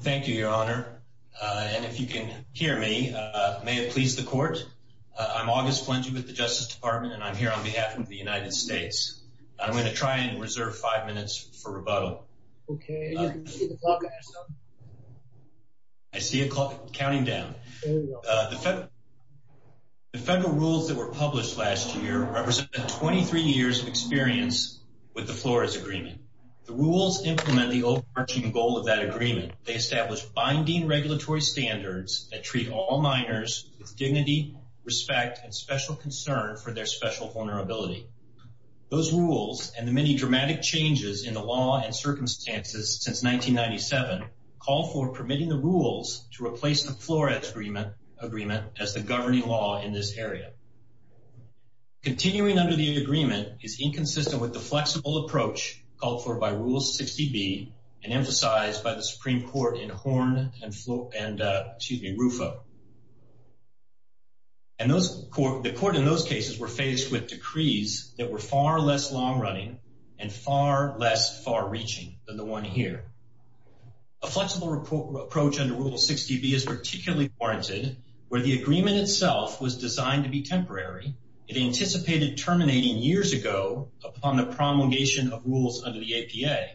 Thank you, Your Honor. And if you can hear me, may it please the court. I'm August Flangey with the Justice Department, and I'm here on behalf of the United States. I'm going to try and reserve five minutes for rebuttal. I see a clock counting down. The federal rules that were published last year represent 23 years of experience with the Flores Agreement. The rules implement the overarching goal of that agreement. They establish binding regulatory standards that treat all minors with dignity, respect, and special concern for their special vulnerability. Those rules and the many dramatic changes in the law and circumstances since 1997 call for permitting the rules to replace the Flores Agreement as the governing law in this 60B and emphasized by the Supreme Court in Horn and Rufo. The court in those cases were faced with decrees that were far less long-running and far less far-reaching than the one here. A flexible approach under Rule 60B is particularly warranted where the agreement itself was designed to be temporary. It anticipated terminating years ago upon the promulgation of rules under the APA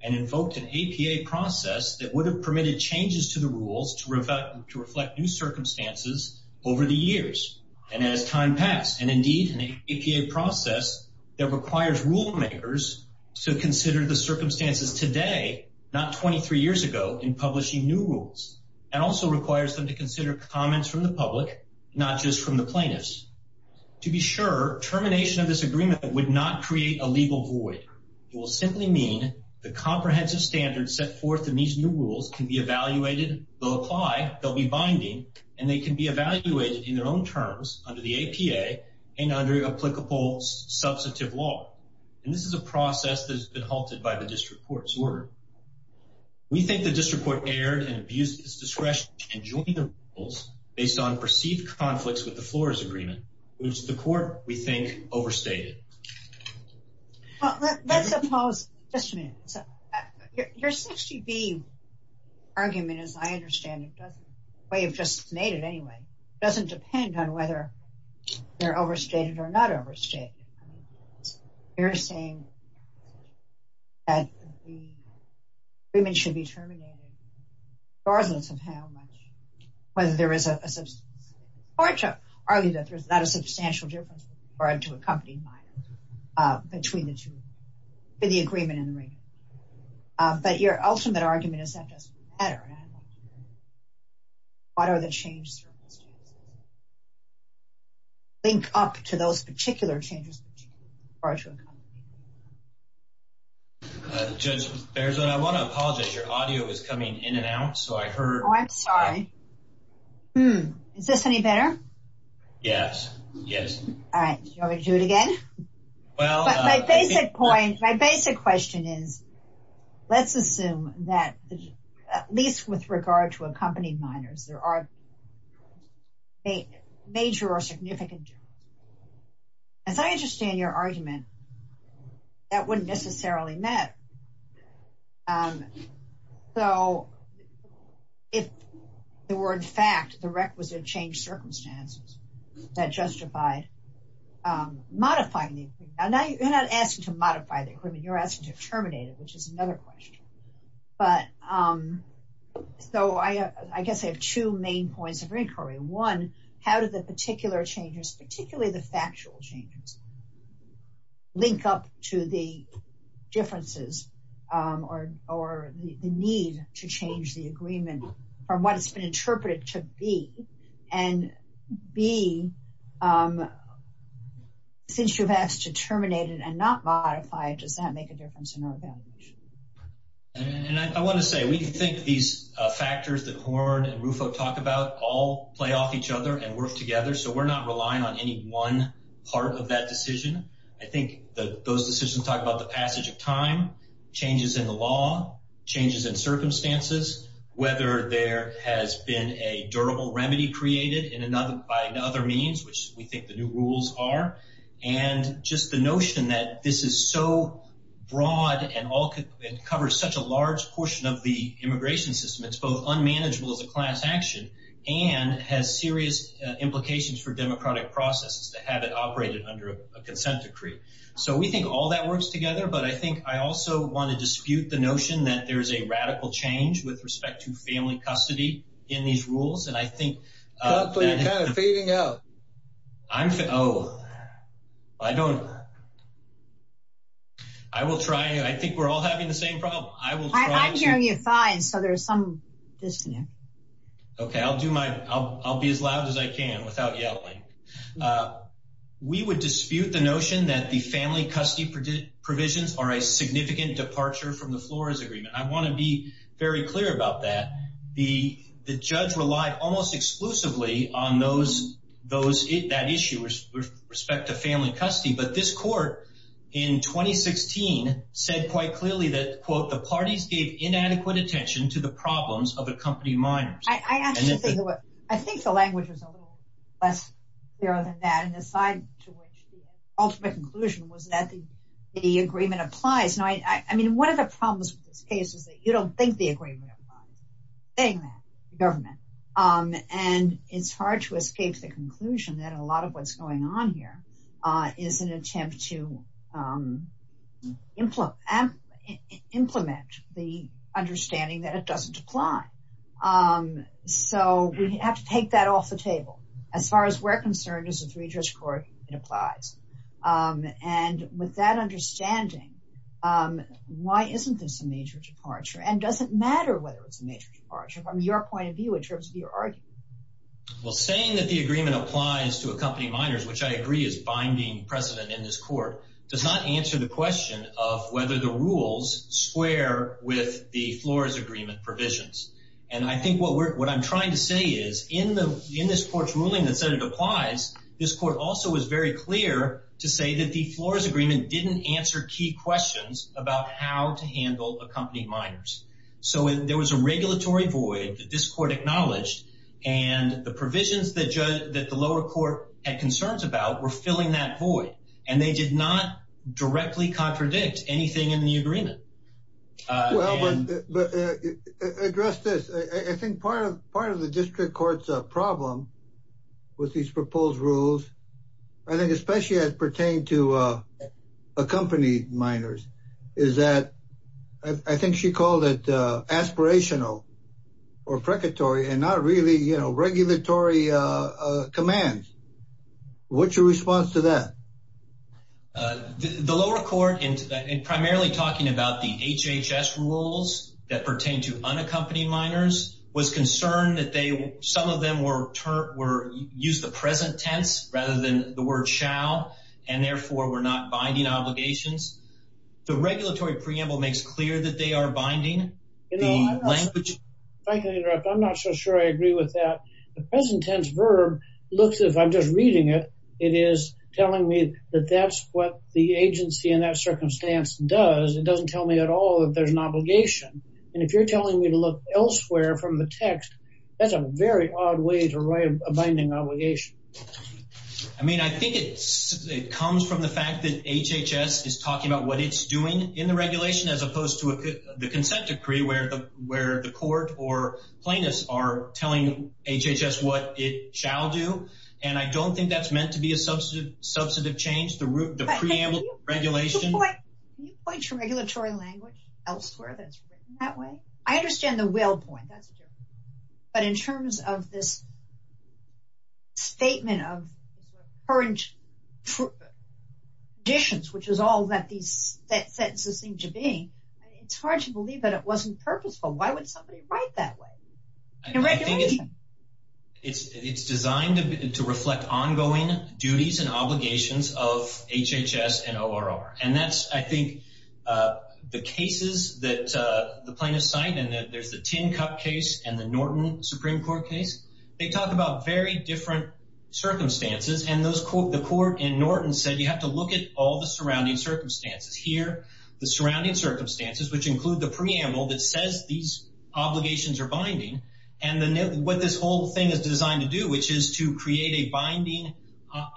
and invoked an APA process that would have permitted changes to the rules to reflect new circumstances over the years. And as time passed, and indeed an APA process that requires rule makers to consider the circumstances today, not 23 years ago, in publishing new rules, and also requires them to consider comments from the public, not just from the plaintiffs. To be sure, termination of this agreement would not create a legal void. It will simply mean the comprehensive standards set forth in these new rules can be evaluated, they'll apply, they'll be binding, and they can be evaluated in their own terms under the APA and under applicable substantive law. And this is a process that has been halted by the District Court's order. We think the District Court erred and abused its discretion and joined the rules based on perceived conflicts with the Flores Agreement, which the Court, we think, overstated. Let's suppose, just a minute, your 60B argument, as I understand it, doesn't, the way you've just made it anyway, doesn't depend on whether they're overstated or not overstated. You're saying that the agreement should be terminated regardless of how much, whether there is a substantial difference, or to accompany minor, between the two, between the agreement and the rating. But your ultimate argument is that doesn't matter. What are the change circumstances? I want to apologize. Your audio is coming in and out, so I heard. I'm sorry. Is this any better? Yes. Yes. All right. Do you want me to do it again? My basic point, my basic question is, let's assume that, at least with regard to accompanying minors, there are major or significant differences. As I understand your argument, that wouldn't necessarily matter. So, if there were, in fact, the requisite change circumstances that justified modifying the agreement. Now, you're not asking to modify the agreement. You're asking to terminate it, which is another question. So, I guess I have two main points of inquiry. One, how do the particular changes, particularly the factual changes, link up to the differences or the need to change the agreement from what it's been interpreted to be? And B, since you've asked to terminate it and not modify it, does that make a difference? And I want to say, we think these factors that Horn and Rufo talk about all play off each other and work together. So, we're not relying on any one part of that decision. I think those decisions talk about the passage of time, changes in the law, changes in circumstances, whether there has been a durable remedy created by other means, which we think the new rules are, and just the notion that this is so broad and covers such a large portion of the immigration system. It's both unmanageable as a class action and has serious implications for democratic processes to have it operated under a consent decree. So, we think all that works together, but I think I also want to dispute the notion that there's a radical change with respect to family custody in these rules. And I think... Hopefully, you're kind of feeding out. I'm... Oh, I don't... I will try. I think we're all having the same problem. I will try to... I'm hearing you fine. So, there's some disconnect. Okay. I'll do my... I'll be as loud as I can without yelling. We would dispute the notion that the family custody provisions are a significant departure from the Flores Agreement. I want to be very clear about that. The judge relied almost exclusively on that issue with respect to family custody, but this court in 2016 said quite clearly that, quote, the parties gave inadequate attention to the problems of accompanied minors. I have to say, I think the language was a little less clear than that, and the side to which the ultimate conclusion was that the agreement applies. Now, I mean, one of the problems with this case is that you don't think the agreement applies, saying that, the government. And it's hard to escape the conclusion that a lot of what's going on here is an attempt to implement the understanding that it doesn't apply. So, we have to take that off the table. As far as we're concerned, as a three-judge court, it applies. And with that understanding, why isn't this a major departure? And does it matter whether it's a major departure from your point of view, in terms of your argument? Well, saying that the agreement applies to accompanied minors, which I agree is binding precedent in this court, does not answer the question of whether the rules square with the Flores Agreement provisions. And I think what I'm trying to say is, in this court's ruling that it applies, this court also was very clear to say that the Flores Agreement didn't answer key questions about how to handle accompanied minors. So, there was a regulatory void that this court acknowledged, and the provisions that the lower court had concerns about were filling that void. And they did not directly contradict anything in the agreement. Well, but address this. I think part of the district court's problem with these proposed rules, I think especially as pertained to accompanied minors, is that I think she called it aspirational or precatory and not really regulatory commands. What's your response to that? The lower court, in primarily talking about the HHS rules that pertain to unaccompanied minors, was concerned that some of them were used the present tense rather than the word shall, and therefore were not binding obligations. The regulatory preamble makes clear that they are binding. If I can interrupt, I'm not so sure I agree with that. The present tense verb looks, if I'm just reading it, it is telling me that that's what the agency in that circumstance does. It doesn't tell me at all that there's an obligation. And if you're telling me to look elsewhere from the text, that's a very odd way to write a binding obligation. I mean, I think it comes from the fact that HHS is talking about what it's doing in the regulation as opposed to the consent decree where the court or plaintiffs are telling HHS what it is. And I don't think that's meant to be a substantive change, the preamble regulation. Can you point to regulatory language elsewhere that's written that way? I understand the will point, that's a different thing. But in terms of this statement of current conditions, which is all that these sentences seem to be, it's hard to believe that it wasn't purposeful. Why would reflect ongoing duties and obligations of HHS and ORR? And that's, I think, the cases that the plaintiffs cite. And there's the Tin Cup case and the Norton Supreme Court case. They talk about very different circumstances. And the court in Norton said, you have to look at all the surrounding circumstances. Here, the surrounding circumstances, which include the preamble that says these are binding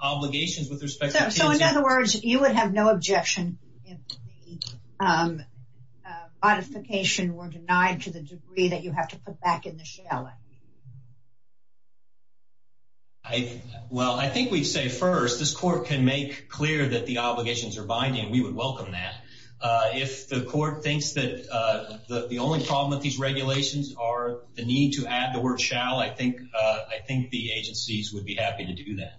obligations with respect to consent. So, in other words, you would have no objection if the modification were denied to the degree that you have to put back in the shall? Well, I think we'd say first, this court can make clear that the obligations are binding. We would welcome that. If the court thinks that the only problem with these regulations are the need to do that.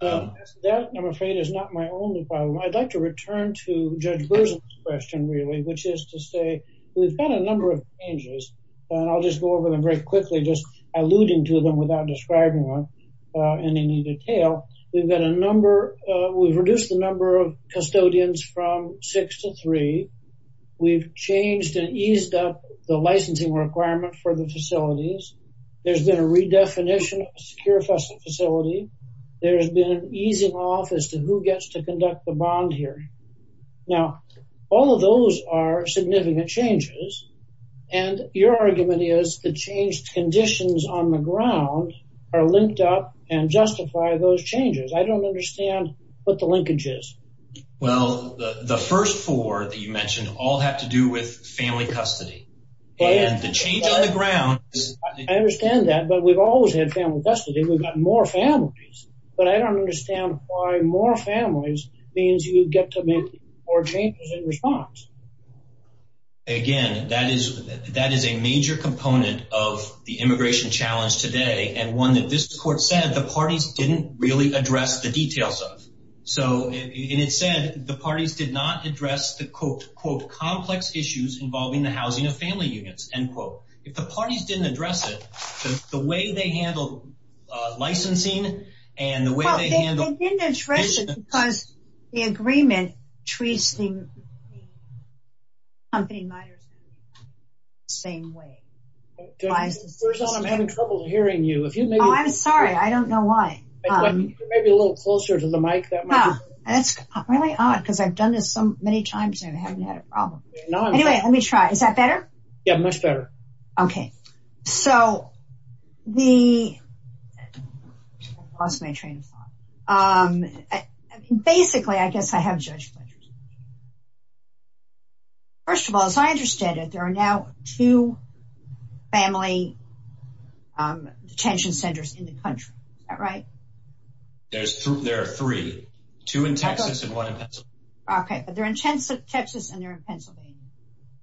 That, I'm afraid, is not my only problem. I'd like to return to Judge Berzin's question, really, which is to say, we've had a number of changes. And I'll just go over them very quickly, just alluding to them without describing them in any detail. We've reduced the number of custodians from six to three. We've changed and eased up the licensing requirement for the facilities. There's been a redefinition of a secure facility. There's been an easing off as to who gets to conduct the bond here. Now, all of those are significant changes. And your argument is the changed conditions on the ground are linked up and justify those changes. I don't understand what the linkage is. Well, the first four that you mentioned all have to do with family custody. And the change on the ground. I understand that. But we've always had family custody. We've got more families. But I don't understand why more families means you get to make more changes in response. Again, that is a major component of the immigration challenge today. And one that this court said the parties didn't really address the details of. So it said the parties did not address the, quote, quote, complex issues involving the housing of family units, end quote. If the parties didn't address it, the way they handle licensing and the way they handle... They didn't address it because the agreement treats the company minors the same way. First of all, I'm having trouble hearing you. I'm sorry. I don't know why. Maybe a little closer to the mic. That's really odd because I've done this so many times and I haven't had a problem. Anyway, let me try. Is that better? Yeah, much better. Okay. So the... I lost my train of thought. Basically, I guess I have judge pleasure. First of all, as I understand it, there are now two family detention centers in the country. Is that right? There are three. Two in Texas and one in Pennsylvania. Okay. They're in Texas and they're in Pennsylvania.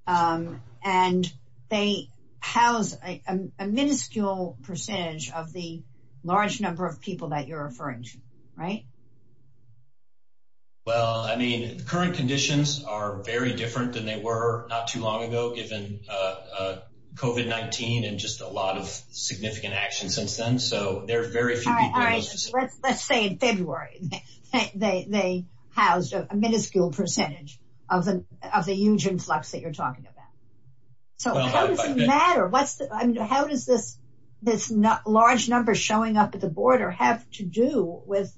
And they house a minuscule percentage of the large number of people that you're referring to, right? Well, I mean, the current conditions are very different than they were not too long ago given COVID-19 and just a lot of significant action since then. So they're very... All right. Let's say in February they housed a minuscule percentage of the huge influx that you're talking about. So how does it matter? How does this large number showing up at the border have to do with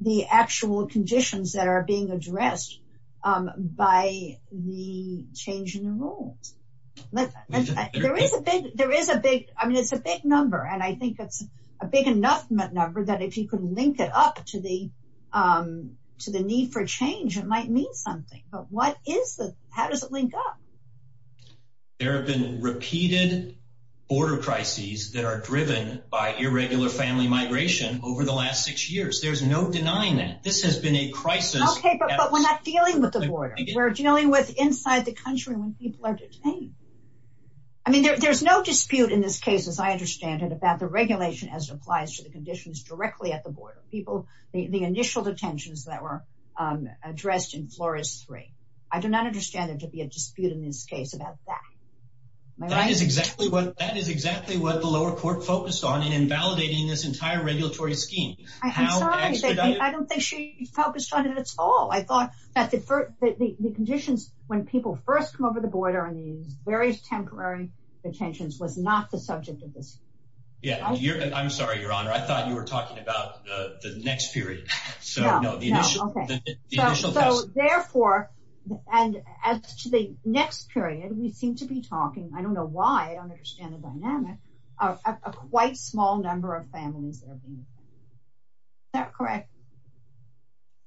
the actual conditions that are being addressed by the change in the And I think it's a big enough number that if you could link it up to the need for change, it might mean something. But what is the... How does it link up? There have been repeated border crises that are driven by irregular family migration over the last six years. There's no denying that. This has been a crisis... Okay, but we're not dealing with the border. We're dealing with inside the country when people are detained. I mean, there's no dispute in this case, as I understand it, about the regulation as it applies to the conditions directly at the border. The initial detentions that were addressed in Flores 3. I do not understand there to be a dispute in this case about that. That is exactly what the lower court focused on in invalidating this entire regulatory scheme. I'm sorry. I don't think she focused on it at all. I thought that the conditions when people first come over the border and these temporary detentions was not the subject of this. Yeah, I'm sorry, Your Honor. I thought you were talking about the next period. So therefore, and as to the next period, we seem to be talking, I don't know why, I don't understand the dynamic, of a quite small number of families. Is that correct?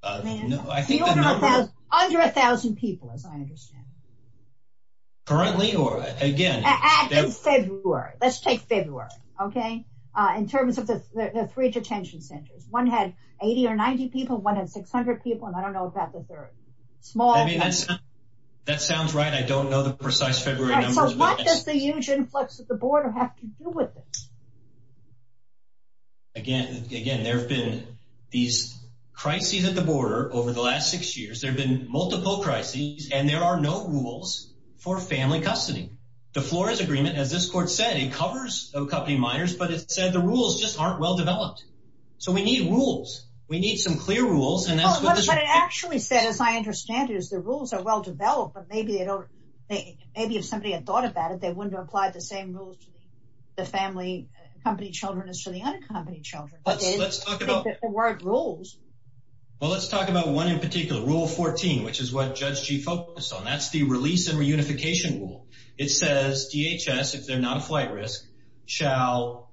No, I think... Under a thousand people, as I understand it. Currently or again? In February. Let's take February, okay? In terms of the three detention centers. One had 80 or 90 people, one had 600 people, and I don't know about the third. That sounds right. I don't know the precise February numbers. So what does the huge influx at the border have to do with this? Again, there have been these crises at the border over the last six years. There have been multiple crises and there are no rules for family custody. The Flores Agreement, as this court said, it covers accompanying minors, but it said the rules just aren't well developed. So we need rules. We need some clear rules. What it actually said, as I understand it, is the rules are well developed, but maybe if somebody had thought about it, they wouldn't apply the same rules to the family accompanied children as to the unaccompanied children. Let's talk about one in particular, Rule 14, which is what Judge G focused on. That's the release and reunification rule. It says DHS, if they're not a flight risk, shall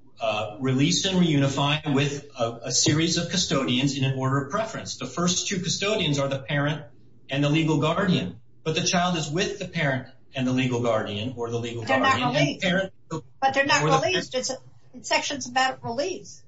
release and reunify with a series of custodians in an order of preference. The first two custodians are the parent and the legal guardian, but the child is with the parent and the legal guardian or the legal guardian. But they're not released. It's a section about release.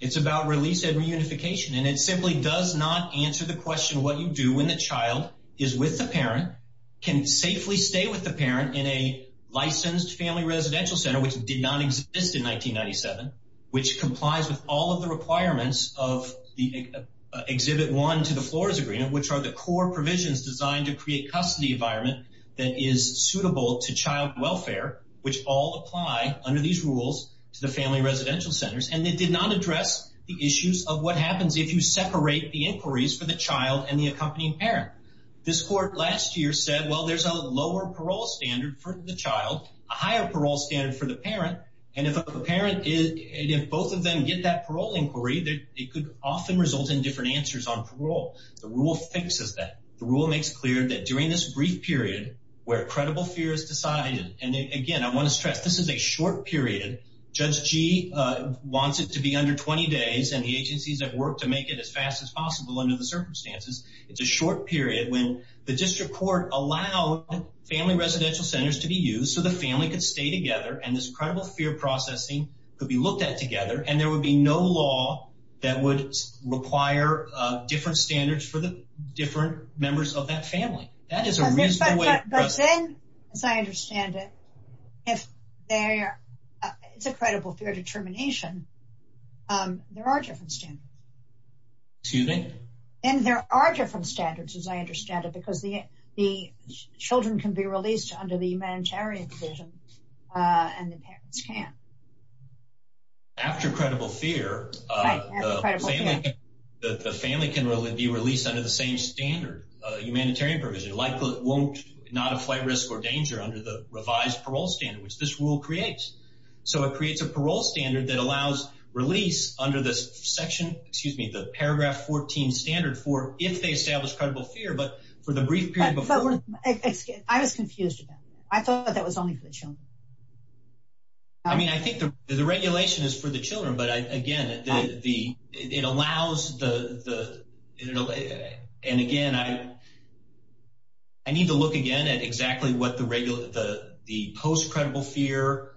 It's about release and reunification and it simply does not answer the question what you do when the child is with the parent, can safely stay with the parent in a licensed family residential center, which did not exist in 1997, which complies with all of the requirements of the Exhibit 1 to the Flores Agreement, which are the core provisions designed to create custody environment that is suitable to child welfare, which all apply under these rules to the family residential centers. And it did not address the issues of what happens if you separate the inquiries for the child and the accompanying parent. This court last year said, well, there's a lower parole standard for the child, a higher parole standard for the parent. And if a parent is, if both of them get that parole inquiry, it could often result in different answers on parole. The rule fixes that. The rule makes clear that during this brief period where credible fear is decided, and again, I want to stress, this is a short period. Judge G wants it to be under 20 days and the agencies that work to make it as fast as possible under the circumstances. It's a short period when the district court allowed family residential centers to be used so the family could stay together and this credible fear processing could be looked at together. And there would be no law that would require different standards for the different members of that family. That is a reasonable way. But then, as I understand it, if there is a credible fear determination, there are different standards. And there are different standards, as I understand it, because the children can be released under the humanitarian provision and the parents can't. After credible fear, the family can really be released under the same standard, humanitarian provision, likely won't not apply risk or danger under the revised parole standard, which this rule creates. So it creates a parole standard that allows release under this section, excuse me, the paragraph 14 standard for if they establish credible fear, but for the brief period it's I was confused. I thought that was only for the children. I mean, I think the regulation is for the children. But again, the it allows the and again, I I need to look again at exactly what the regular the post credible fear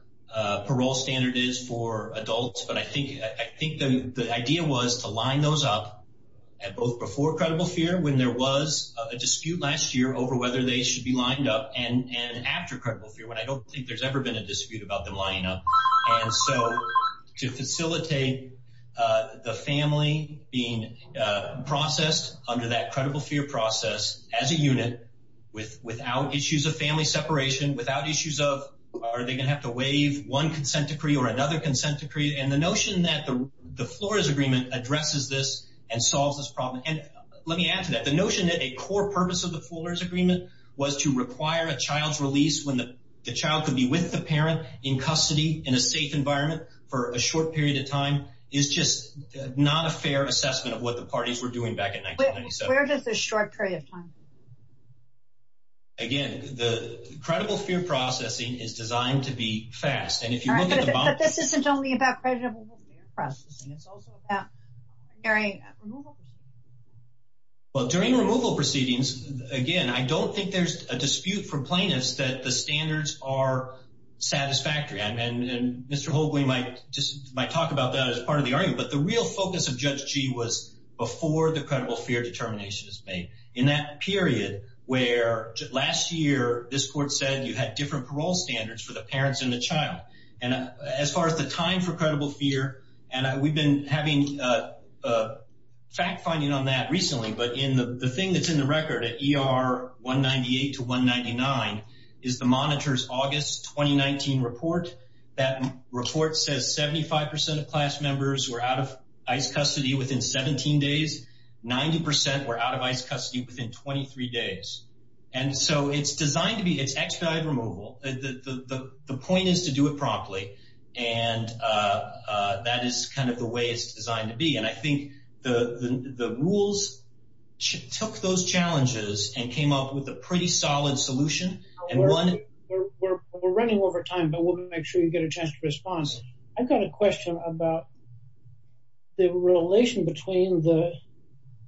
parole standard is for adults. But I think I think the idea was to line those up both before credible fear, when there was a dispute last year over whether they should be lined up and after credible fear when I don't think there's ever been a dispute about the lineup. And so to facilitate the family being processed under that credible fear process as a unit with without issues of family separation without issues of are they going to have to waive one consent decree or another consent decree and the notion that the floor is agreement addresses this and let me add to that the notion that a core purpose of the fuller's agreement was to require a child's release when the child could be with the parent in custody in a safe environment for a short period of time is just not a fair assessment of what the parties were doing back in 1997. Where does the short period of time? Again, the credible fear processing is designed to be fast. And if you look at Well, during removal proceedings, again, I don't think there's a dispute for plaintiffs that the standards are satisfactory. And Mr. Hoagley might just might talk about that as part of the argument. But the real focus of Judge G was before the credible fear determination is made in that period, where last year, this court said you had different parole standards for the parents and the child. And as far as the time for credible fear, and we've been having a fact finding on that recently, but in the thing that's in the record at ER 198 to 199 is the monitors August 2019 report. That report says 75% of class members were out of ice custody within 17 days. 90% were out of ice custody within 23 days. And so it's designed to be it's expedited removal. The point is to do it promptly. And that is kind of the way it's designed to be. And I think the rules took those challenges and came up with a pretty solid solution. And we're running over time, but we'll make sure you get a chance to respond. I've got a question about the relation between the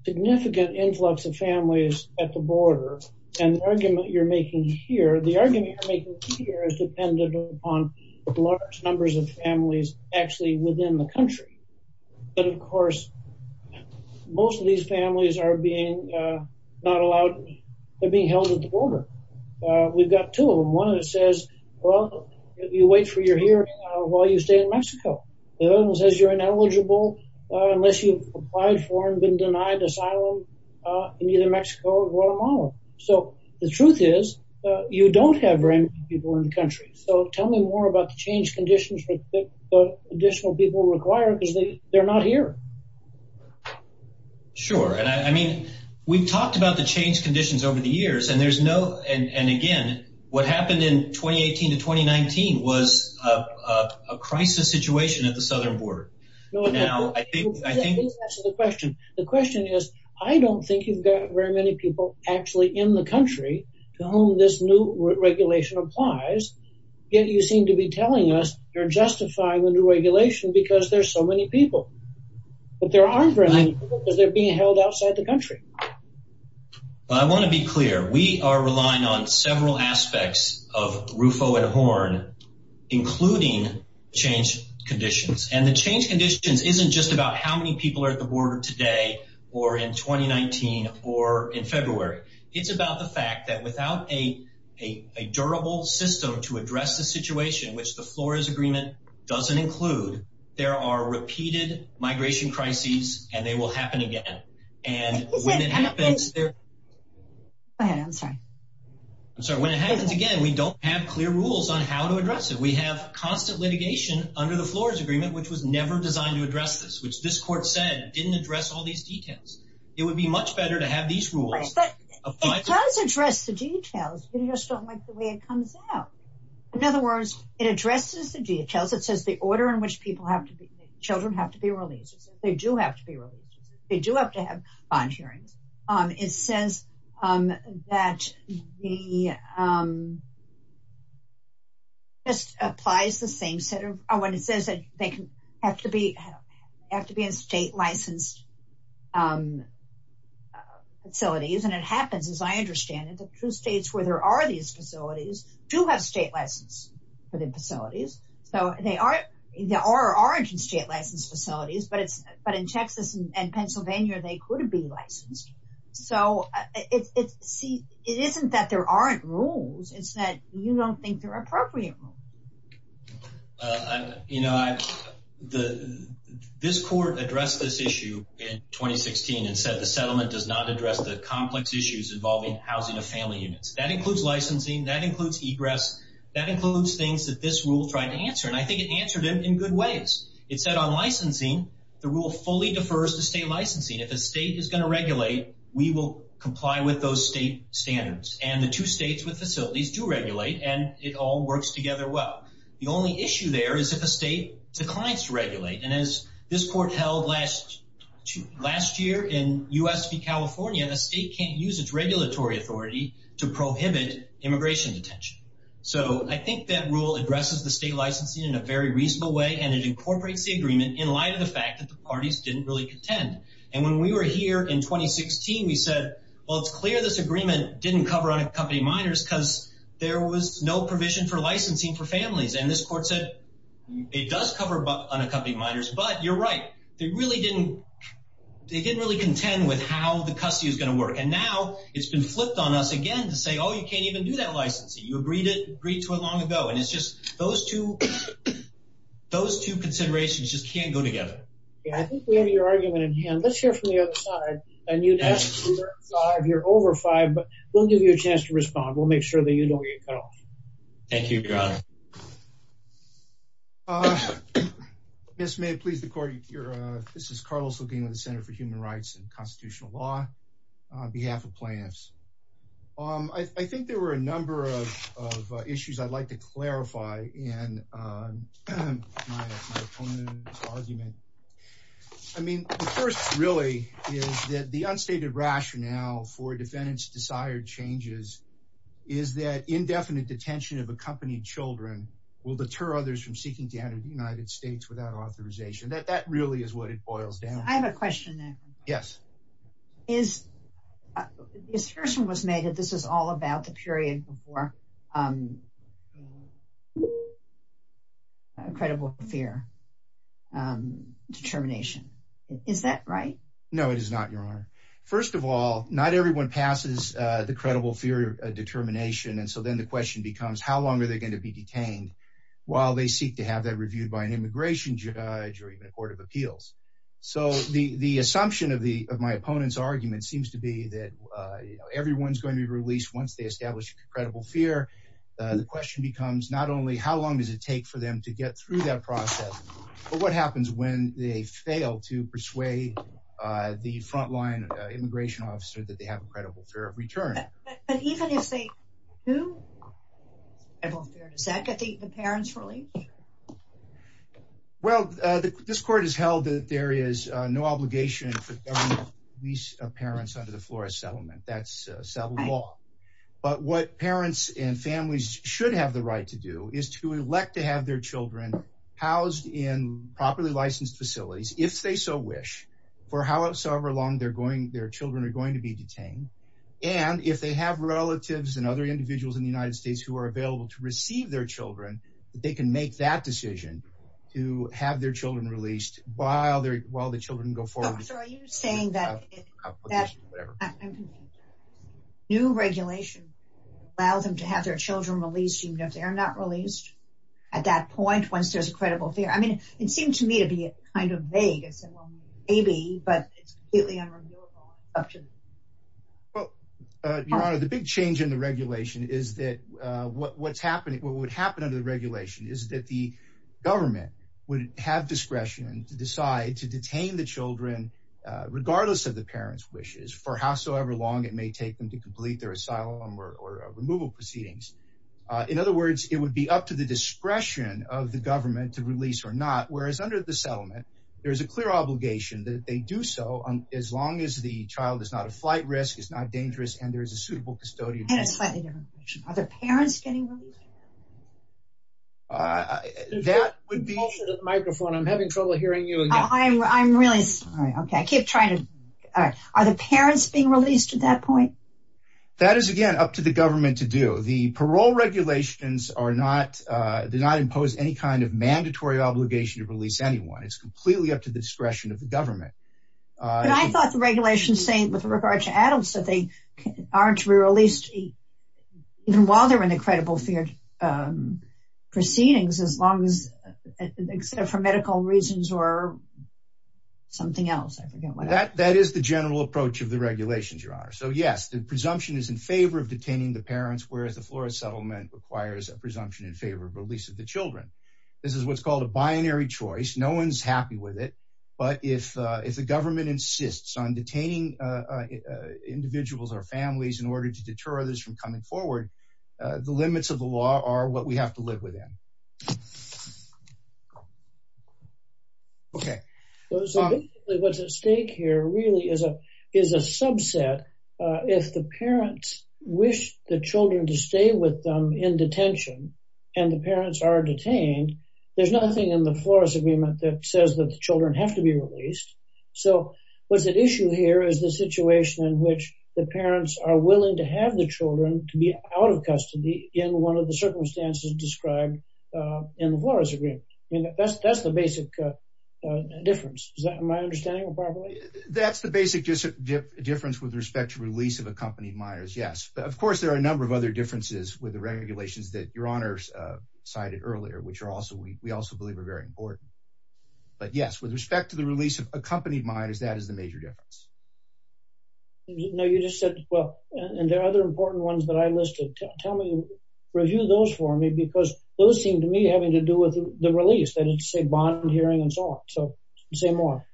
significant influx of families at the border, and the argument you're making here, the argument is dependent on large numbers of families actually within the country. But of course, most of these families are being not allowed to be held at the border. We've got two of them. One of them says, well, you wait for your hearing while you stay in Mexico. The other one says you're ineligible unless you've applied for and been denied asylum in either Mexico or Guatemala. So the truth is, you don't have very many people in the country. So tell me more about the change conditions for the additional people required because they're not here. Sure. And I mean, we've talked about the change conditions over the years and there's no and again, what happened in 2018 to 2019 was a crisis situation at the southern border. I think that's the question. The question is, I don't think you've got very many people actually in the country to whom this new regulation applies. Yet you seem to be telling us you're justifying the new regulation because there's so many people. But there aren't very many people because they're being held outside the country. I want to be clear. We are relying on several about how many people are at the border today or in 2019 or in February. It's about the fact that without a durable system to address the situation, which the Flores Agreement doesn't include, there are repeated migration crises and they will happen again. And when it happens again, we don't have clear rules on how to address it. We have constant litigation under the Flores Agreement, which was never designed to address this, which this court said didn't address all these details. It would be much better to have these rules. It does address the details. We just don't like the way it comes out. In other words, it addresses the details. It says the order in which people have to be, children have to be released. They do have to be released. They do have to have bond hearings. It says that they have to be in state-licensed facilities. And it happens, as I understand it, the two states where there are these facilities do have state license for the facilities. So there are state-licensed facilities, but in Texas and Pennsylvania, they could be licensed. So it isn't that there aren't rules. It's that you don't think they're appropriate. You know, this court addressed this issue in 2016 and said the settlement does not address the complex issues involving housing of family units. That includes licensing. That includes egress. That includes things that this rule tried to fully defers to state licensing. If a state is going to regulate, we will comply with those state standards. And the two states with facilities do regulate, and it all works together well. The only issue there is if a state declines to regulate. And as this court held last year in U.S. v. California, the state can't use its regulatory authority to prohibit immigration detention. So I think that rule addresses the state licensing in a very reasonable way, and it incorporates the agreement in light of the fact that the parties didn't really contend. And when we were here in 2016, we said, well, it's clear this agreement didn't cover unaccompanied minors because there was no provision for licensing for families. And this court said, it does cover unaccompanied minors, but you're right. They didn't really contend with how the custody is going to work. And now it's been flipped on us again to say, oh, you can't even do that licensing. You agreed to it long ago. And it's just those two considerations just can't go together. Yeah, I think we have your argument in hand. Let's hear from the other side. And you'd ask if you're over five, but we'll give you a chance to respond. We'll make sure that you don't get cut off. Thank you, Your Honor. Yes, may it please the court. This is Carlos LeGuin with the Center for Human Rights and Constitutional Law on behalf of plaintiffs. I think there were a number of issues I'd like to clarify in my opponent's argument. I mean, the first really is that the unstated rationale for defendants' desired changes is that indefinite detention of accompanied children will deter others from seeking to enter the United States without authorization. That really is what it boils down to. I have a made that this is all about the period before credible fear determination. Is that right? No, it is not, Your Honor. First of all, not everyone passes the credible fear determination. And so then the question becomes, how long are they going to be detained while they seek to have that reviewed by an immigration judge or even a court of appeals? So the assumption of my opponent's argument seems to be that everyone's going to be released once they establish a credible fear. The question becomes not only how long does it take for them to get through that process, but what happens when they fail to persuade the frontline immigration officer that they have a credible fear of return? But even if they do have a credible fear, does that get the parents released? Well, this court has held that there is no obligation for government to release parents under the Flores settlement. That's settled law. But what parents and families should have the right to do is to elect to have their children housed in properly licensed facilities, if they so wish, for however long their children are going to be detained. And if they have relatives and other individuals in the United States who are available to receive their children, they can make that decision to have their children released while the children go forward. So are you saying that new regulation allows them to have their children released even if they're not released at that point once there's a credible fear? I mean, it seemed to me to be kind of vague. I said, well, maybe, but it's completely unreviewable. Well, Your Honor, the big change in the regulation is that what would happen under the regardless of the parents' wishes for howsoever long it may take them to complete their asylum or removal proceedings. In other words, it would be up to the discretion of the government to release or not. Whereas under the settlement, there is a clear obligation that they do so as long as the child is not a flight risk, is not dangerous, and there is a suitable custodian. Are their parents getting released? That would be the microphone. I'm having trouble hearing you. I'm really sorry. Okay. I keep trying to... Are the parents being released at that point? That is, again, up to the government to do. The parole regulations do not impose any kind of mandatory obligation to release anyone. It's completely up to the discretion of the government. But I thought the regulation was saying with regard to adults that they aren't re-released even while they're in the credible fear proceedings as long as, except for medical reasons or something else. That is the general approach of the regulations, Your Honor. So yes, the presumption is in favor of detaining the parents, whereas the Florida settlement requires a presumption in favor of release of the children. This is what's called a binary choice. No one's happy with it. But if the government insists on detaining individuals or families in order to deter others from coming forward, the limits of the law are what we have to live within. Okay. So basically, what's at stake here really is a subset. If the parents wish the children to stay with them in detention and the parents are detained, there's nothing in the Flores agreement that says that the children have to be released. So what's at issue here is the situation in which the parents are willing to have the children to be out of custody in one of the circumstances described in the Flores agreement. I mean, that's the basic difference. Is that my understanding? That's the basic difference with respect to release of accompanied minors. Yes. Of course, there are a number of other differences with the regulations that Your Honor cited earlier, which we also believe are very important. But yes, with respect to the release of accompanied minors, that is the major difference. You know, you just said, well, and there are other important ones that I listed. Tell me, review those for me, because those seem to me having to do with the release that it's a bond hearing and so on. So say more.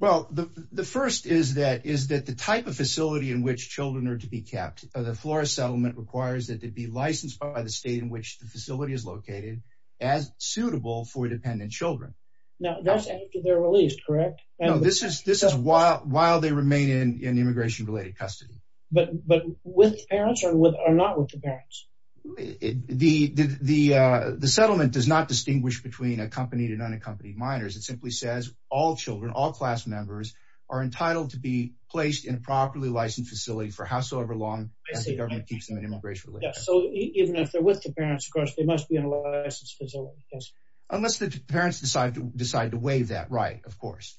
Well, the first is that is that the type of facility in which children are to be kept, the Flores settlement requires that they be licensed by the state in which the facility is located as suitable for dependent children. Now, that's after they're released, correct? No, this is while they remain in immigration related custody. But with parents or not with the parents? The settlement does not distinguish between accompanied and unaccompanied minors. It simply says all children, all class members are entitled to be placed in a properly licensed facility for howsoever long the government keeps them in immigration. So even if they're with the parents, of course, they must be in a licensed facility. Unless the parents decide to decide to waive that, right, of course.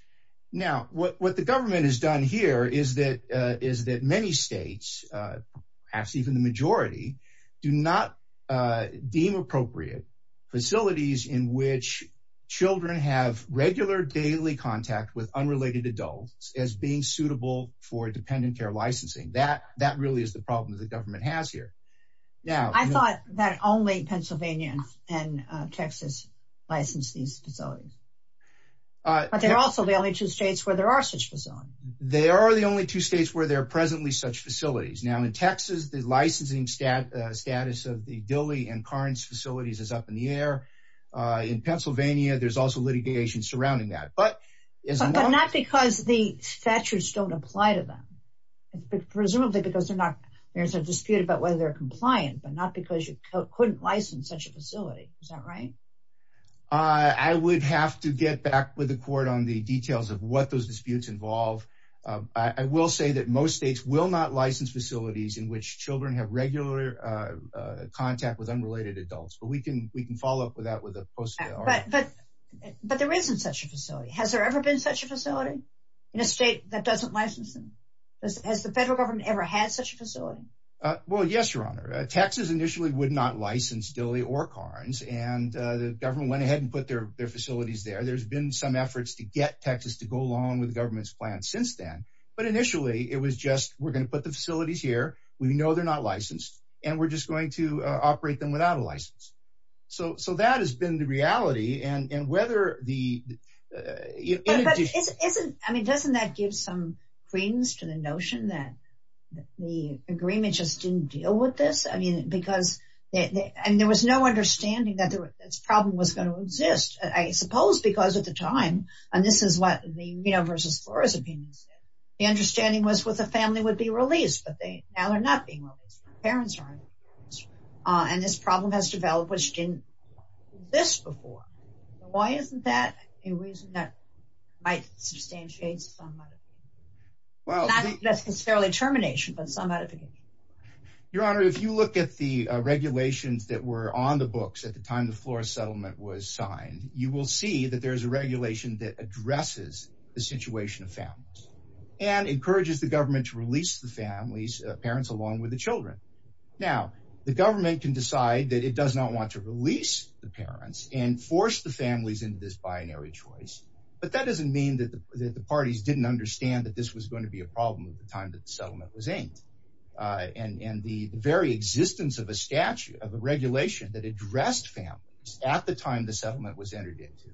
Now, what the government has done here is that many states, perhaps even the majority, do not deem appropriate facilities in which children have regular daily contact with unrelated adults as being suitable for dependent care licensing. That really is the government has here. Now, I thought that only Pennsylvania and Texas licensed these facilities. But they're also the only two states where there are such facilities. They are the only two states where there are presently such facilities. Now in Texas, the licensing status of the Dilley and Carnes facilities is up in the air. In Pennsylvania, there's also litigation surrounding that. But not because the statutes don't apply to them. Presumably because they're not, there's a dispute about whether they're compliant, but not because you couldn't license such a facility. Is that right? I would have to get back with the court on the details of what those disputes involve. I will say that most states will not license facilities in which children have regular contact with unrelated adults. But we can we can follow up with that with a post. But there isn't such a facility. Has there ever been such a facility in a state that doesn't license them? Has the federal government ever had such a facility? Well, yes, your honor. Texas initially would not license Dilley or Carnes. And the government went ahead and put their facilities there. There's been some efforts to get Texas to go along with the government's plan since then. But initially, it was just we're going to put the facilities here. We know they're not licensed. And we're just going to operate them without a license. So that has been the reality. And whether the... I mean, doesn't that give some credence to the notion that the agreement just didn't deal with this? I mean, because there was no understanding that this problem was going to exist, I suppose, because at the time, and this is what the, you know, versus Flores opinions, the understanding was with a family would be released, but they now they're not being released. Parents aren't. And this problem has developed, which didn't exist before. Why isn't that a reason that might substantiate some? Not necessarily termination, but some modification. Your honor, if you look at the regulations that were on the books at the time the Flores settlement was signed, you will see that there's a regulation that addresses the situation of families and encourages the government to release the families, parents along with the children. Now the government can decide that it does not want to release the parents and force the families into this binary choice. But that doesn't mean that the parties didn't understand that this was going to be a problem at the time that the settlement was aimed. And the very existence of a statute, of a regulation that addressed families at the time the settlement was entered into,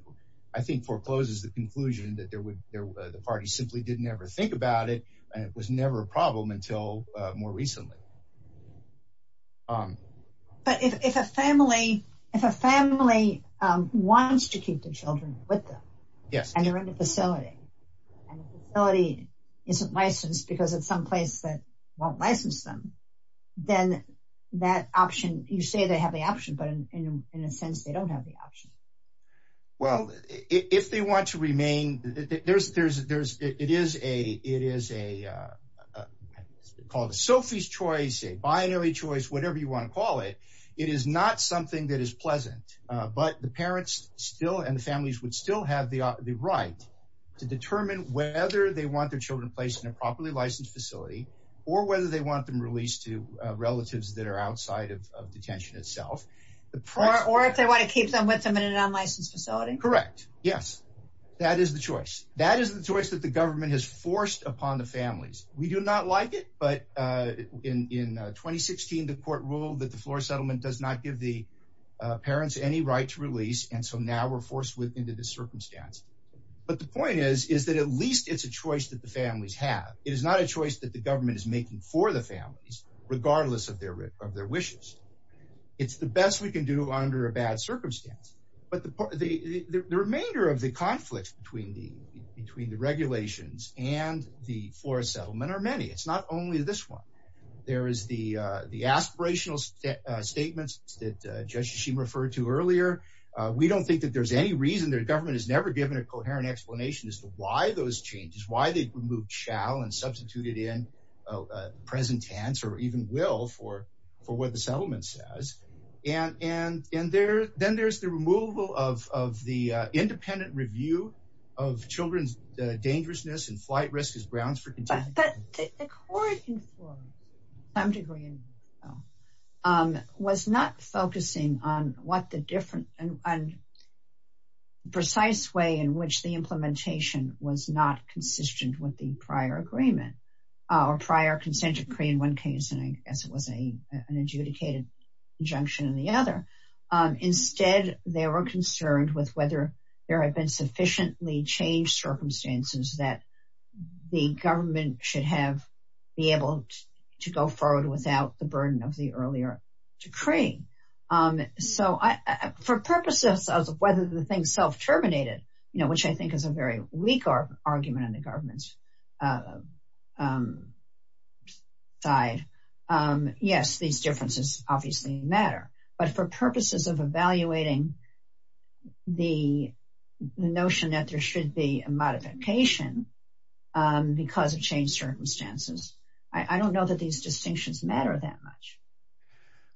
I think forecloses the conclusion that the party simply didn't ever think about it. And it was never a problem until more recently. But if a family wants to keep the children with them, and they're in the facility, and the facility isn't licensed because it's someplace that won't license them, then that option, you say they have the option, but in a sense, they don't have the option. Well, if they want to remain, it is called a Sophie's choice, a binary choice, whatever you want to call it. It is not something that is pleasant. But the parents still and the families would still have the right to determine whether they want their children placed in a properly licensed facility, or whether they want them released to relatives that are outside of a licensed facility. Correct. Yes, that is the choice. That is the choice that the government has forced upon the families. We do not like it. But in 2016, the court ruled that the floor settlement does not give the parents any right to release. And so now we're forced with into this circumstance. But the point is, is that at least it's a choice that the families have, it is not a choice that the government is making for the families, regardless of their of their circumstance. But the remainder of the conflict between the regulations and the floor settlement are many. It's not only this one. There is the aspirational statements that Judge Hashim referred to earlier. We don't think that there's any reason their government has never given a coherent explanation as to why those changes, why they removed shall and substituted in present tense or even will for, for what the settlement says. And, and, and there, then there's the removal of the independent review of children's dangerousness and flight risk as grounds for contention. But the court informed some degree was not focusing on what the different and precise way in which the implementation was not consistent with the consent decree in one case, and I guess it was a, an adjudicated injunction in the other. Instead, they were concerned with whether there had been sufficiently changed circumstances that the government should have be able to go forward without the burden of the earlier decree. So I, for purposes of whether the thing self terminated, you know, which I think is a very weak argument on the government's side. Yes, these differences obviously matter, but for purposes of evaluating the notion that there should be a modification because of change circumstances, I don't know that these distinctions matter that much.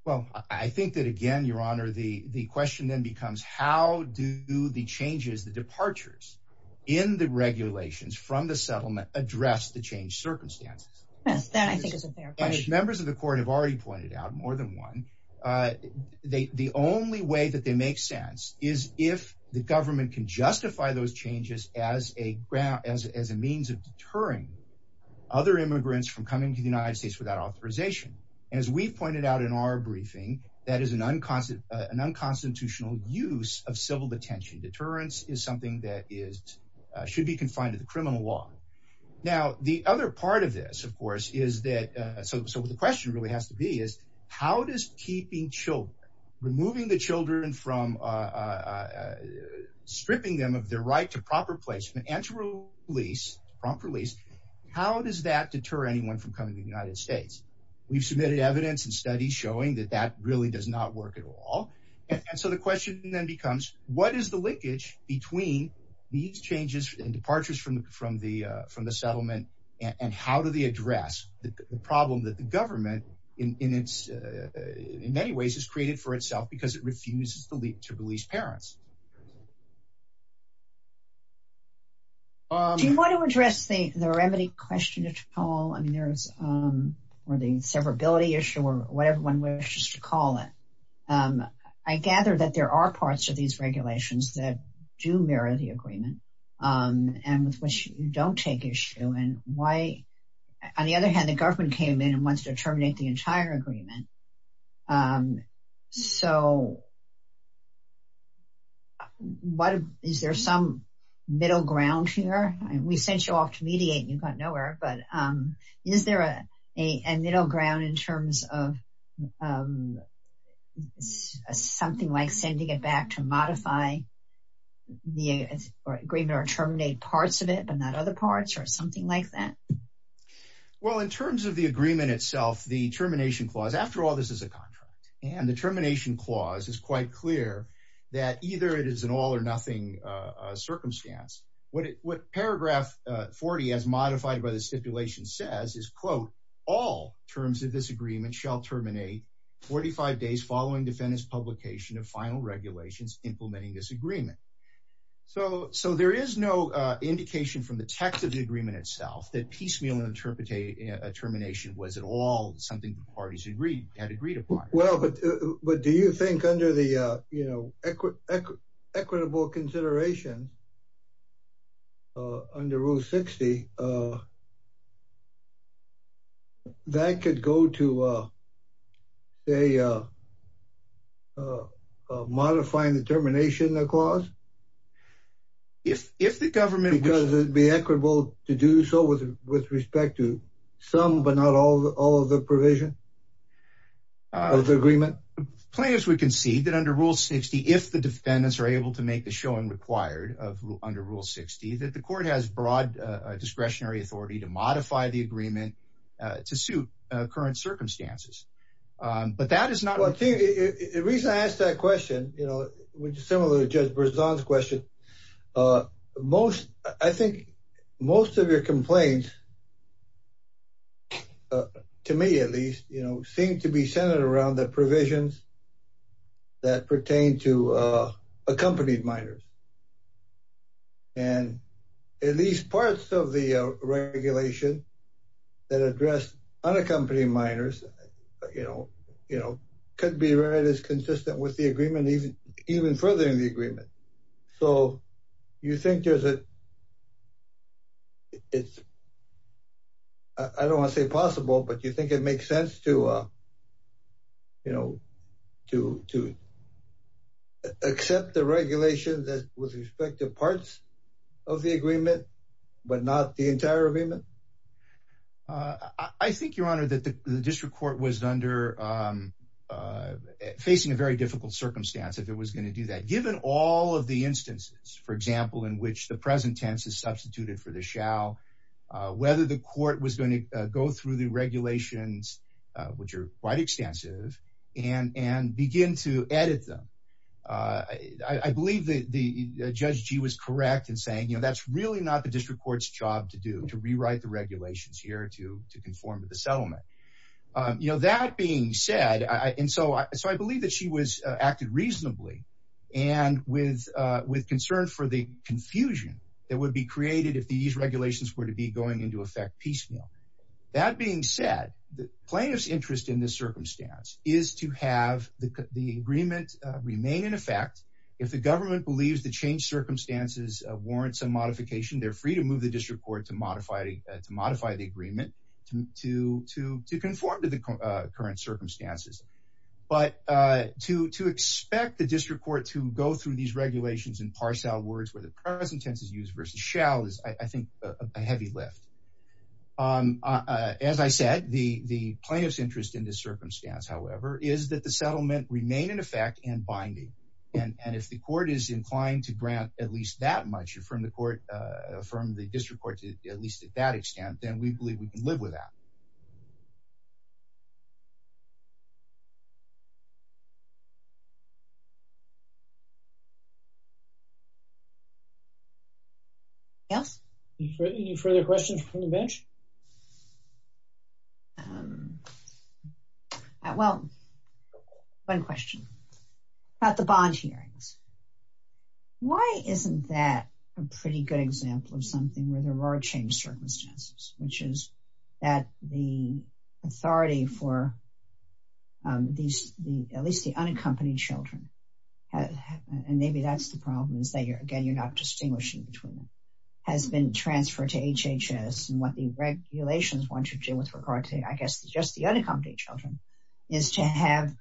Well, I think that again, your honor, the, the question then becomes how do the changes, the departures in the regulations from the settlement address the change circumstances. That I think is a fair question. Members of the court have already pointed out more than one. They, the only way that they make sense is if the government can justify those changes as a ground, as, as a means of deterring other immigrants from coming to the United States without authorization. And as we've pointed out in our briefing, that is an unconstitutional use of civil detention. Deterrence is something that is, should be confined to the criminal law. Now, the other part of this of course, is that, so the question really has to be is how does keeping children, removing the children from stripping them of their right to proper placement and to release, prompt release, how does that deter anyone from coming to the United States? We've submitted evidence and studies showing that that really does not work at all. And so the question then becomes what is the leakage between these changes and departures from, from the, from the settlement and how do they address the problem that the government in, in its, in many ways has created for itself because it refuses to leave, to release parents. Do you want to address the remedy question at all? I mean, there's, or the severability issue or whatever one wishes to call it. I gather that there are parts of these regulations that do mirror the agreement and with which you don't take issue and why, on the other hand, the government came in and wants to terminate the entire agreement. So what, is there some middle ground here? We sent you off to mediate and you got nowhere, but is there a, a middle ground in terms of something like sending it back to modify the agreement or terminate parts of it, but not other parts or something like that? Well, in terms of the agreement itself, the termination clause, after all, this is a contract and the termination clause is quite clear that either it is an all or nothing circumstance. What it, what paragraph 40 as modified by the stipulation says is quote, all terms of this agreement shall terminate 45 days following defendant's publication of final regulations implementing this agreement. So, so there is no indication from the text of the agreement itself that piecemeal interpretation, a termination was at all something the parties had agreed upon. Well, but, but do you think under the, you know, equitable consideration under rule 60, that could go to a modifying the termination clause? If, if the government would be equitable to do so with, with respect to some, but not all, all of the provision of the agreement. Plaintiffs would concede that under rule 60, if the defendants are able to make the showing required of under rule 60, that the court has broad discretionary authority to modify the agreement to suit current circumstances. But that is not, the reason I asked that question, you know, which is similar to judge Berzon's question. Most, I think most of your complaints to me, at least, you know, seem to be centered around the provisions that pertain to accompanied minors. And at least parts of the regulation that addressed unaccompanied minors, you know, you know, could be read as consistent with the agreement, even furthering the agreement. So you think there's a, it's, I don't want to say possible, but you think it makes sense to, you know, to, to accept the regulation that with respect to parts of the agreement, but not the entire agreement? Uh, I think your honor that the district court was under, um, uh, facing a very difficult circumstance. If it was going to do that, given all of the instances, for example, in which the present tense is substituted for the shall, uh, whether the court was going to go through the regulations, uh, which are quite extensive and, and begin to edit them. Uh, I, I believe that the judge G was correct in saying, you know, that's really not the district court's job to do, to rewrite the regulations here, to, to conform to the settlement. Um, you know, that being said, I, and so, so I believe that she was, uh, acted reasonably and with, uh, with concern for the confusion that would be created if these regulations were to be going into effect piecemeal. That being said, the plaintiff's interest in this circumstance is to have the, the agreement, uh, remain in effect. If the government believes the change circumstances of warrants and modification, they're free to move the district court to modify, uh, to modify the agreement to, to, to, to conform to the current circumstances. But, uh, to, to expect the district court to go through these regulations in parcel words, where the present tense is used versus shall is I think a heavy lift. Um, uh, as I said, the, the plaintiff's interest in this circumstance, however, is that the settlement remain in effect and binding. And if the court is inclined to grant at least that much from the court, uh, from the district court, at least at that extent, then we believe we can live with that. Yes. Any further questions from the bench? Um, uh, well, one question about the bond hearings. Why isn't that a pretty good example of something where there are changed circumstances, which is that the authority for, um, these, the, at least the unaccompanied children, and maybe that's the problem is that you're, again, you're not distinguishing between them has been transferred to HHS and what the regulations want you to do with regard to, I guess, just the unaccompanied children is to have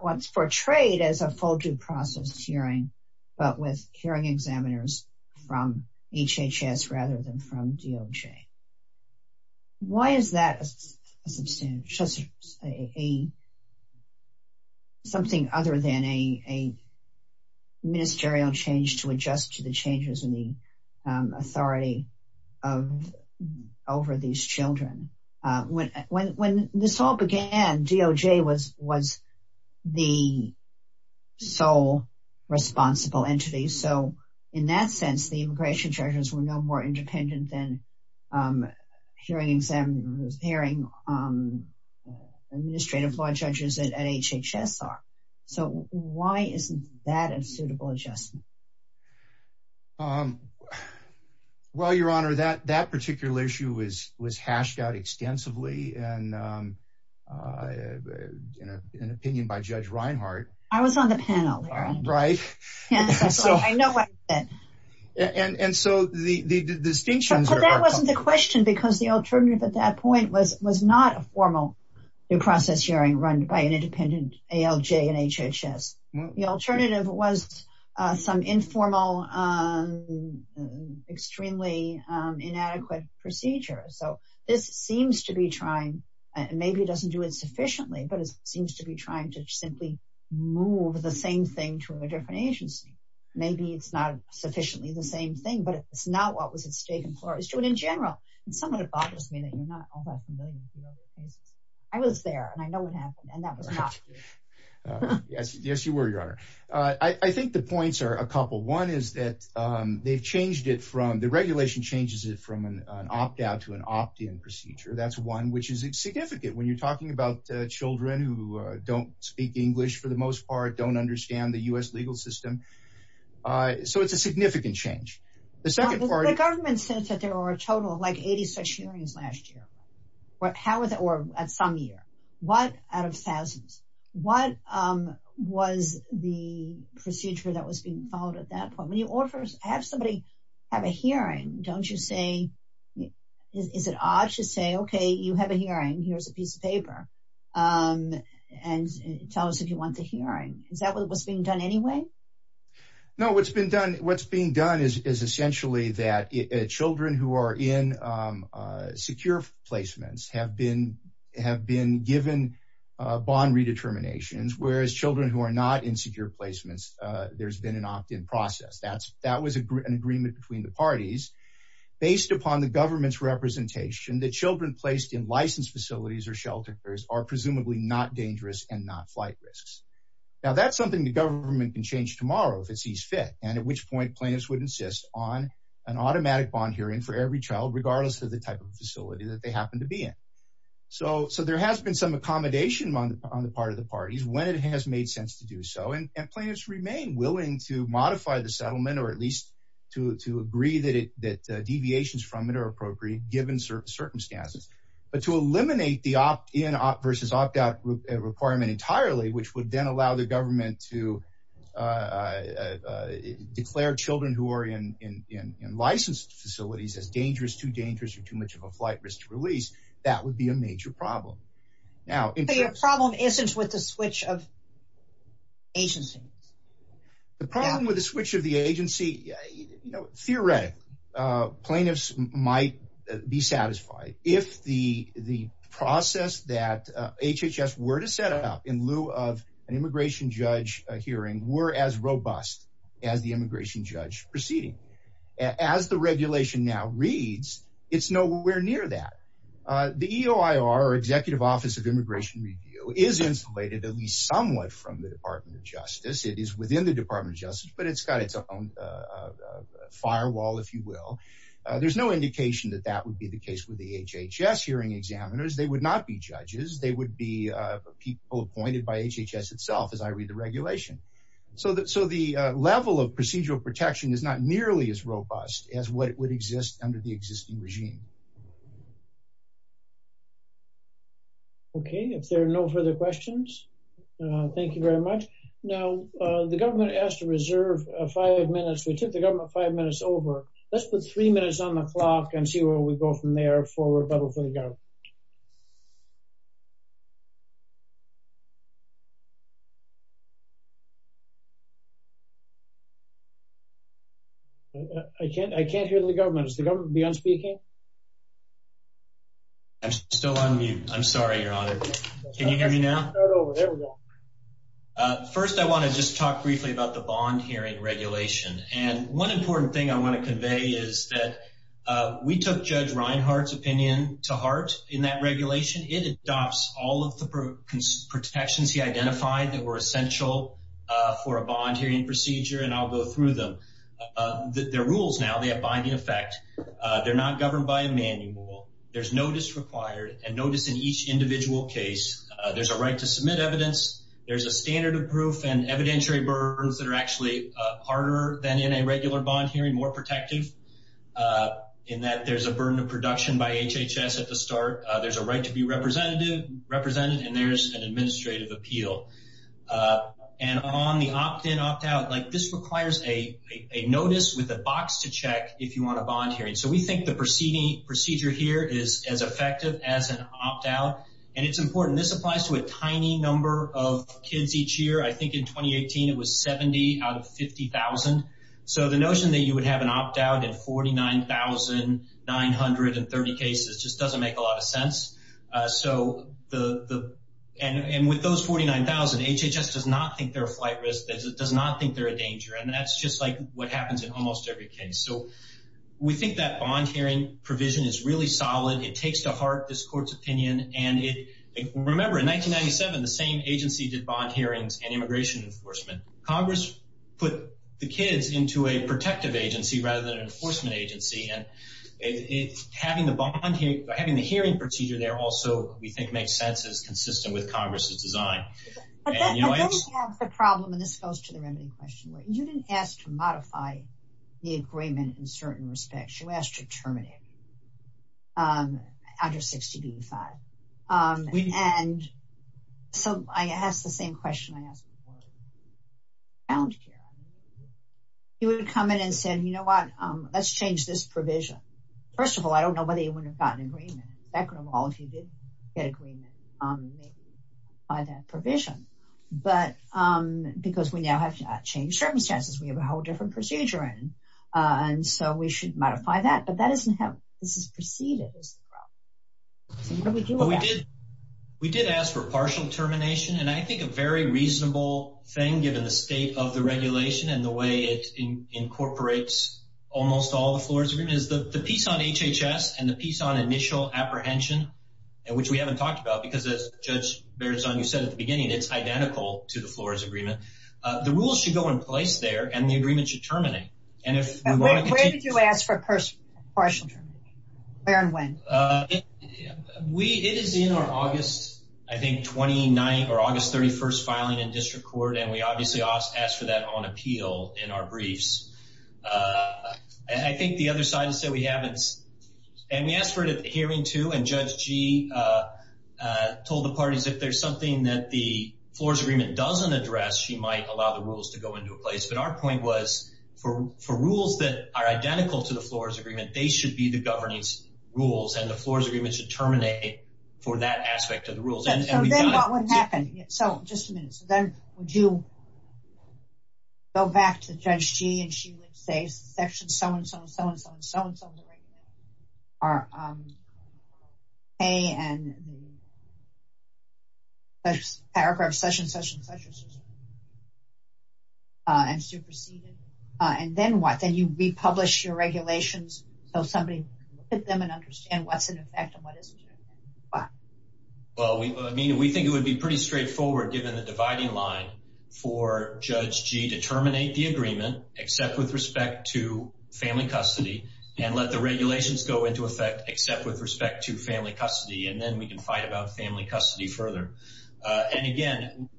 what's portrayed as a full due process hearing, but with hearing examiners from HHS rather than from DOJ. Why is that a substantial, a, something other than a, a ministerial change to adjust to the changes in the, um, authority of, over these children? Uh, when, when, when this all began, DOJ was, was the sole responsible entity. So in that sense, the immigration judges were no more independent than, um, hearing examiners, hearing, um, administrative law judges at HHS are. So why isn't that a issue? Was, was hashed out extensively and, um, uh, in an opinion by judge Reinhardt. I was on the panel, right? And so I know what, and, and, and so the, the, the distinction, but that wasn't the question because the alternative at that point was, was not a formal due process hearing run by an independent ALJ and HHS. The alternative was, uh, some informal, um, extremely, um, inadequate procedure. So this seems to be trying, maybe it doesn't do it sufficiently, but it seems to be trying to simply move the same thing to a different agency. Maybe it's not sufficiently the same thing, but it's not what was at stake in Florida. It's doing in general. And some of it bothers me that you're not all that familiar with the other cases. I was there and I know what happened and that was not, yes, yes, you were your honor. Uh, I think the points are a couple. One is that, um, they've changed it from the regulation changes it from an opt-out to an opt-in procedure. That's one, which is significant when you're talking about children who don't speak English for the most part, don't understand the U S legal system. Uh, so it's a significant change. The second part, the government says that there are a total of like 80 such hearings last year. What, how was it, or at some year, what out of thousands, what, um, was the procedure that was being followed at that point? When you offer, have somebody have a hearing, don't you say, is it odd to say, okay, you have a hearing, here's a piece of paper. Um, and tell us if you want the hearing, is that what was being done anyway? No, what's been done. What's being done is essentially that children who are in, um, uh, placements have been, have been given, uh, bond redeterminations, whereas children who are not insecure placements, uh, there's been an opt-in process. That's, that was an agreement between the parties based upon the government's representation that children placed in licensed facilities or shelters are presumably not dangerous and not flight risks. Now that's something the government can change tomorrow if it sees fit. And at which point plaintiffs would on an automatic bond hearing for every child, regardless of the type of facility that they happen to be in. So, so there has been some accommodation on the, on the part of the parties when it has made sense to do so. And plaintiffs remain willing to modify the settlement or at least to, to agree that it, that, uh, deviations from it are appropriate given certain circumstances, but to eliminate the opt-in versus opt-out requirement entirely, which would then allow the government to, uh, uh, uh, declare children who are in, in, in, in licensed facilities as dangerous, too dangerous, or too much of a flight risk to release. That would be a major problem. Now, your problem isn't with the switch of agency. The problem with the switch of the agency, you know, theoretically, uh, plaintiffs might be satisfied if the, the process that, uh, HHS were to set up in lieu of an immigration judge hearing were as robust as the immigration judge proceeding. As the regulation now reads, it's nowhere near that. Uh, the EOIR or executive office of immigration review is insulated at least somewhat from the department of justice. It is within the department of justice, but it's got its own, uh, uh, uh, firewall, if you will. Uh, there's no indication that that would be the case with the HHS hearing examiners. They would not be judges. They would be, uh, people appointed by HHS itself as I read the regulation. So the, so the, uh, level of procedural protection is not nearly as robust as what would exist under the existing regime. Okay. If there are no further questions, uh, thank you very much. Now, uh, the government asked to reserve a five minutes. We took the government five minutes over. Let's put three minutes on the clock and see where we go from there forward. I can't, I can't hear the government. I'm still on mute. I'm sorry, your honor. Can you hear me now? Uh, first I want to just talk briefly about the bond hearing regulation. And one important thing I want to convey is that, uh, we took judge Reinhart's opinion to heart in that regulation. It adopts all of the protections he identified that were essential, uh, for a bond hearing procedure. And I'll go through them, uh, their rules. Now they have binding effect. Uh, they're not governed by a manual. There's no disrequired and notice in each individual case, uh, there's a right to submit evidence. There's a standard of proof and evidentiary burns that are actually, uh, harder than in a regular bond hearing, more protective, uh, in that there's a burden of production by HHS at the start. Uh, there's a right to be representative represented and there's an administrative appeal, uh, and on the opt in opt out, like this requires a, a notice with a box to check if you want a bond hearing. So we think the proceeding procedure here is as tiny number of kids each year. I think in 2018, it was 70 out of 50,000. So the notion that you would have an opt out at 49,930 cases just doesn't make a lot of sense. Uh, so the, the, and, and with those 49,000 HHS does not think they're a flight risk. It does not think they're a danger. And that's just like what happens in almost every case. So we think that bond hearing provision is really solid. It takes to heart this court's opinion. And it, remember in 1997, the same agency did bond hearings and immigration enforcement. Congress put the kids into a protective agency rather than an enforcement agency. And it having the bond hearing, having the hearing procedure there also, we think makes sense. It's consistent with Congress's design. The problem, and this goes to the remedy question, you didn't ask to modify the agreement in certain respects. You asked to terminate it. Um, under 60 D five. Um, and so I asked the same question I asked before. He would have come in and said, you know what, um, let's change this provision. First of all, I don't know whether you wouldn't have gotten an agreement. Second of all, if you did get agreement, um, maybe by that provision, but, um, because we now have changed circumstances, we have a whole different procedure in. Uh, and so we should modify that, but that isn't how this is preceded. So what do we do with that? We did ask for partial termination. And I think a very reasonable thing, given the state of the regulation and the way it incorporates almost all the floors agreement is the piece on HHS and the piece on initial apprehension, and which we haven't talked about because as judge bears on, you said at the beginning, it's identical to the agreement should terminate. And if you ask for a person, where and when we, it is in our August, I think, 29 or August 31st filing in district court. And we obviously asked for that on appeal in our briefs. Uh, I think the other side has said we haven't, and we asked for it at the hearing too. And judge G, uh, uh, told the parties if there's something that the floors agreement doesn't address, she might allow the rules to go into a place. But our point was for, for rules that are identical to the floors agreement, they should be the governance rules and the floors agreement should terminate for that aspect of the rules. So just a minute. So then would you go back to judge G and she would say section so-and-so and our, um, a and paragraph session, such and such, uh, and superseded. Uh, and then what, then you republish your regulations. So somebody hit them and understand what's in effect and what isn't. Well, I mean, we think it would be pretty straightforward given the dividing line for judge G to terminate the agreement, except with respect to family custody and let the regulations go into except with respect to family custody. And then we can fight about family custody further. And again,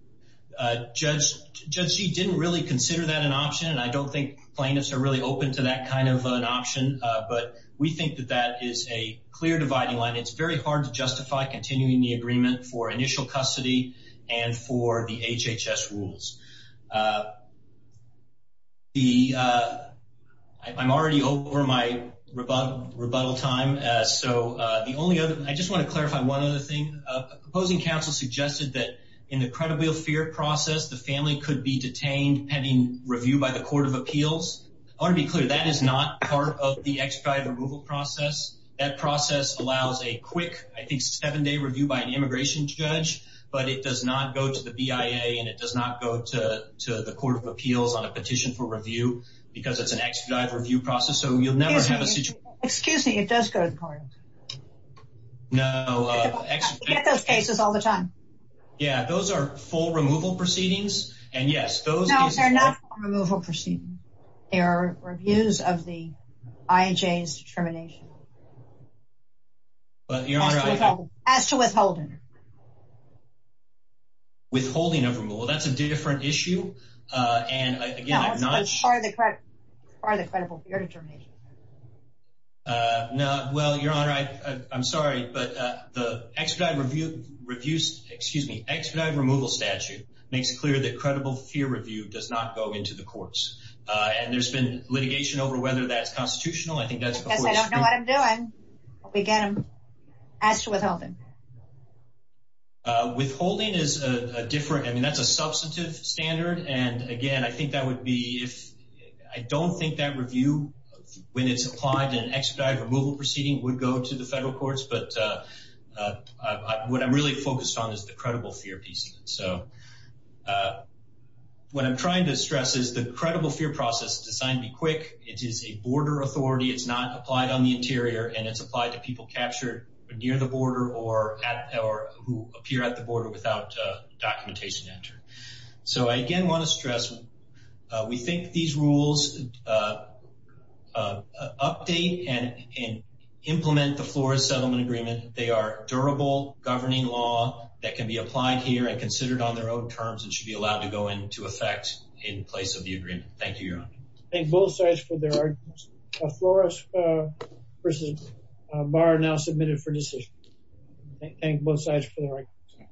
uh, judge, judge G didn't really consider that an option. And I don't think plaintiffs are really open to that kind of an option. Uh, but we think that that is a clear dividing line. It's very hard to justify continuing the agreement for initial custody and for the HHS rules. Uh, the, uh, I'm already over my rebuttal, rebuttal time. Uh, so, uh, the only other, I just want to clarify one other thing, uh, proposing counsel suggested that in the credible fear process, the family could be detained pending review by the court of appeals. I want to be clear that is not part of the expedited removal process. That process allows a quick, I think, review by an immigration judge, but it does not go to the BIA and it does not go to, to the court of appeals on a petition for review because it's an expedited review process. So you'll never have a situation. Excuse me. It does go to the court. No, uh, those cases all the time. Yeah. Those are full removal proceedings. And yes, those are not removal proceedings. They are reviews of the IHA's determination. As to withholding. Withholding of removal. That's a different issue. Uh, and again, part of the credible fear determination. Uh, no, well, your honor, I, I'm sorry, but, uh, the expedited review reviews, excuse me, expedited removal statute makes it clear that credible fear review does not go into the courts. Uh, and there's been litigation over whether that's constitutional. I think that's because I don't know what I'm doing. We get them asked to withhold them. Uh, withholding is a different, I mean, that's a substantive standard. And again, I think that would be if I don't think that review when it's applied to an expedited removal proceeding would go to the federal courts. But, uh, uh, what I'm really focused on is the credible fear piece. So, uh, what I'm trying to stress is the credible fear process designed to be quick. It is a border authority. It's not applied on the interior and it's applied to people captured near the border or at, or who appear at the border without documentation entered. So I again, want to stress, uh, we think these rules, uh, uh, update and, and implement the Florida settlement agreement. They are durable governing law that can be applied here and considered on their own terms and should be allowed to go into effect in place of the agreement. Thank you, Your Honor. Thank both sides for their arguments. Uh, Flores, uh, versus Barr are now submitted for decision. Thank both sides for their arguments.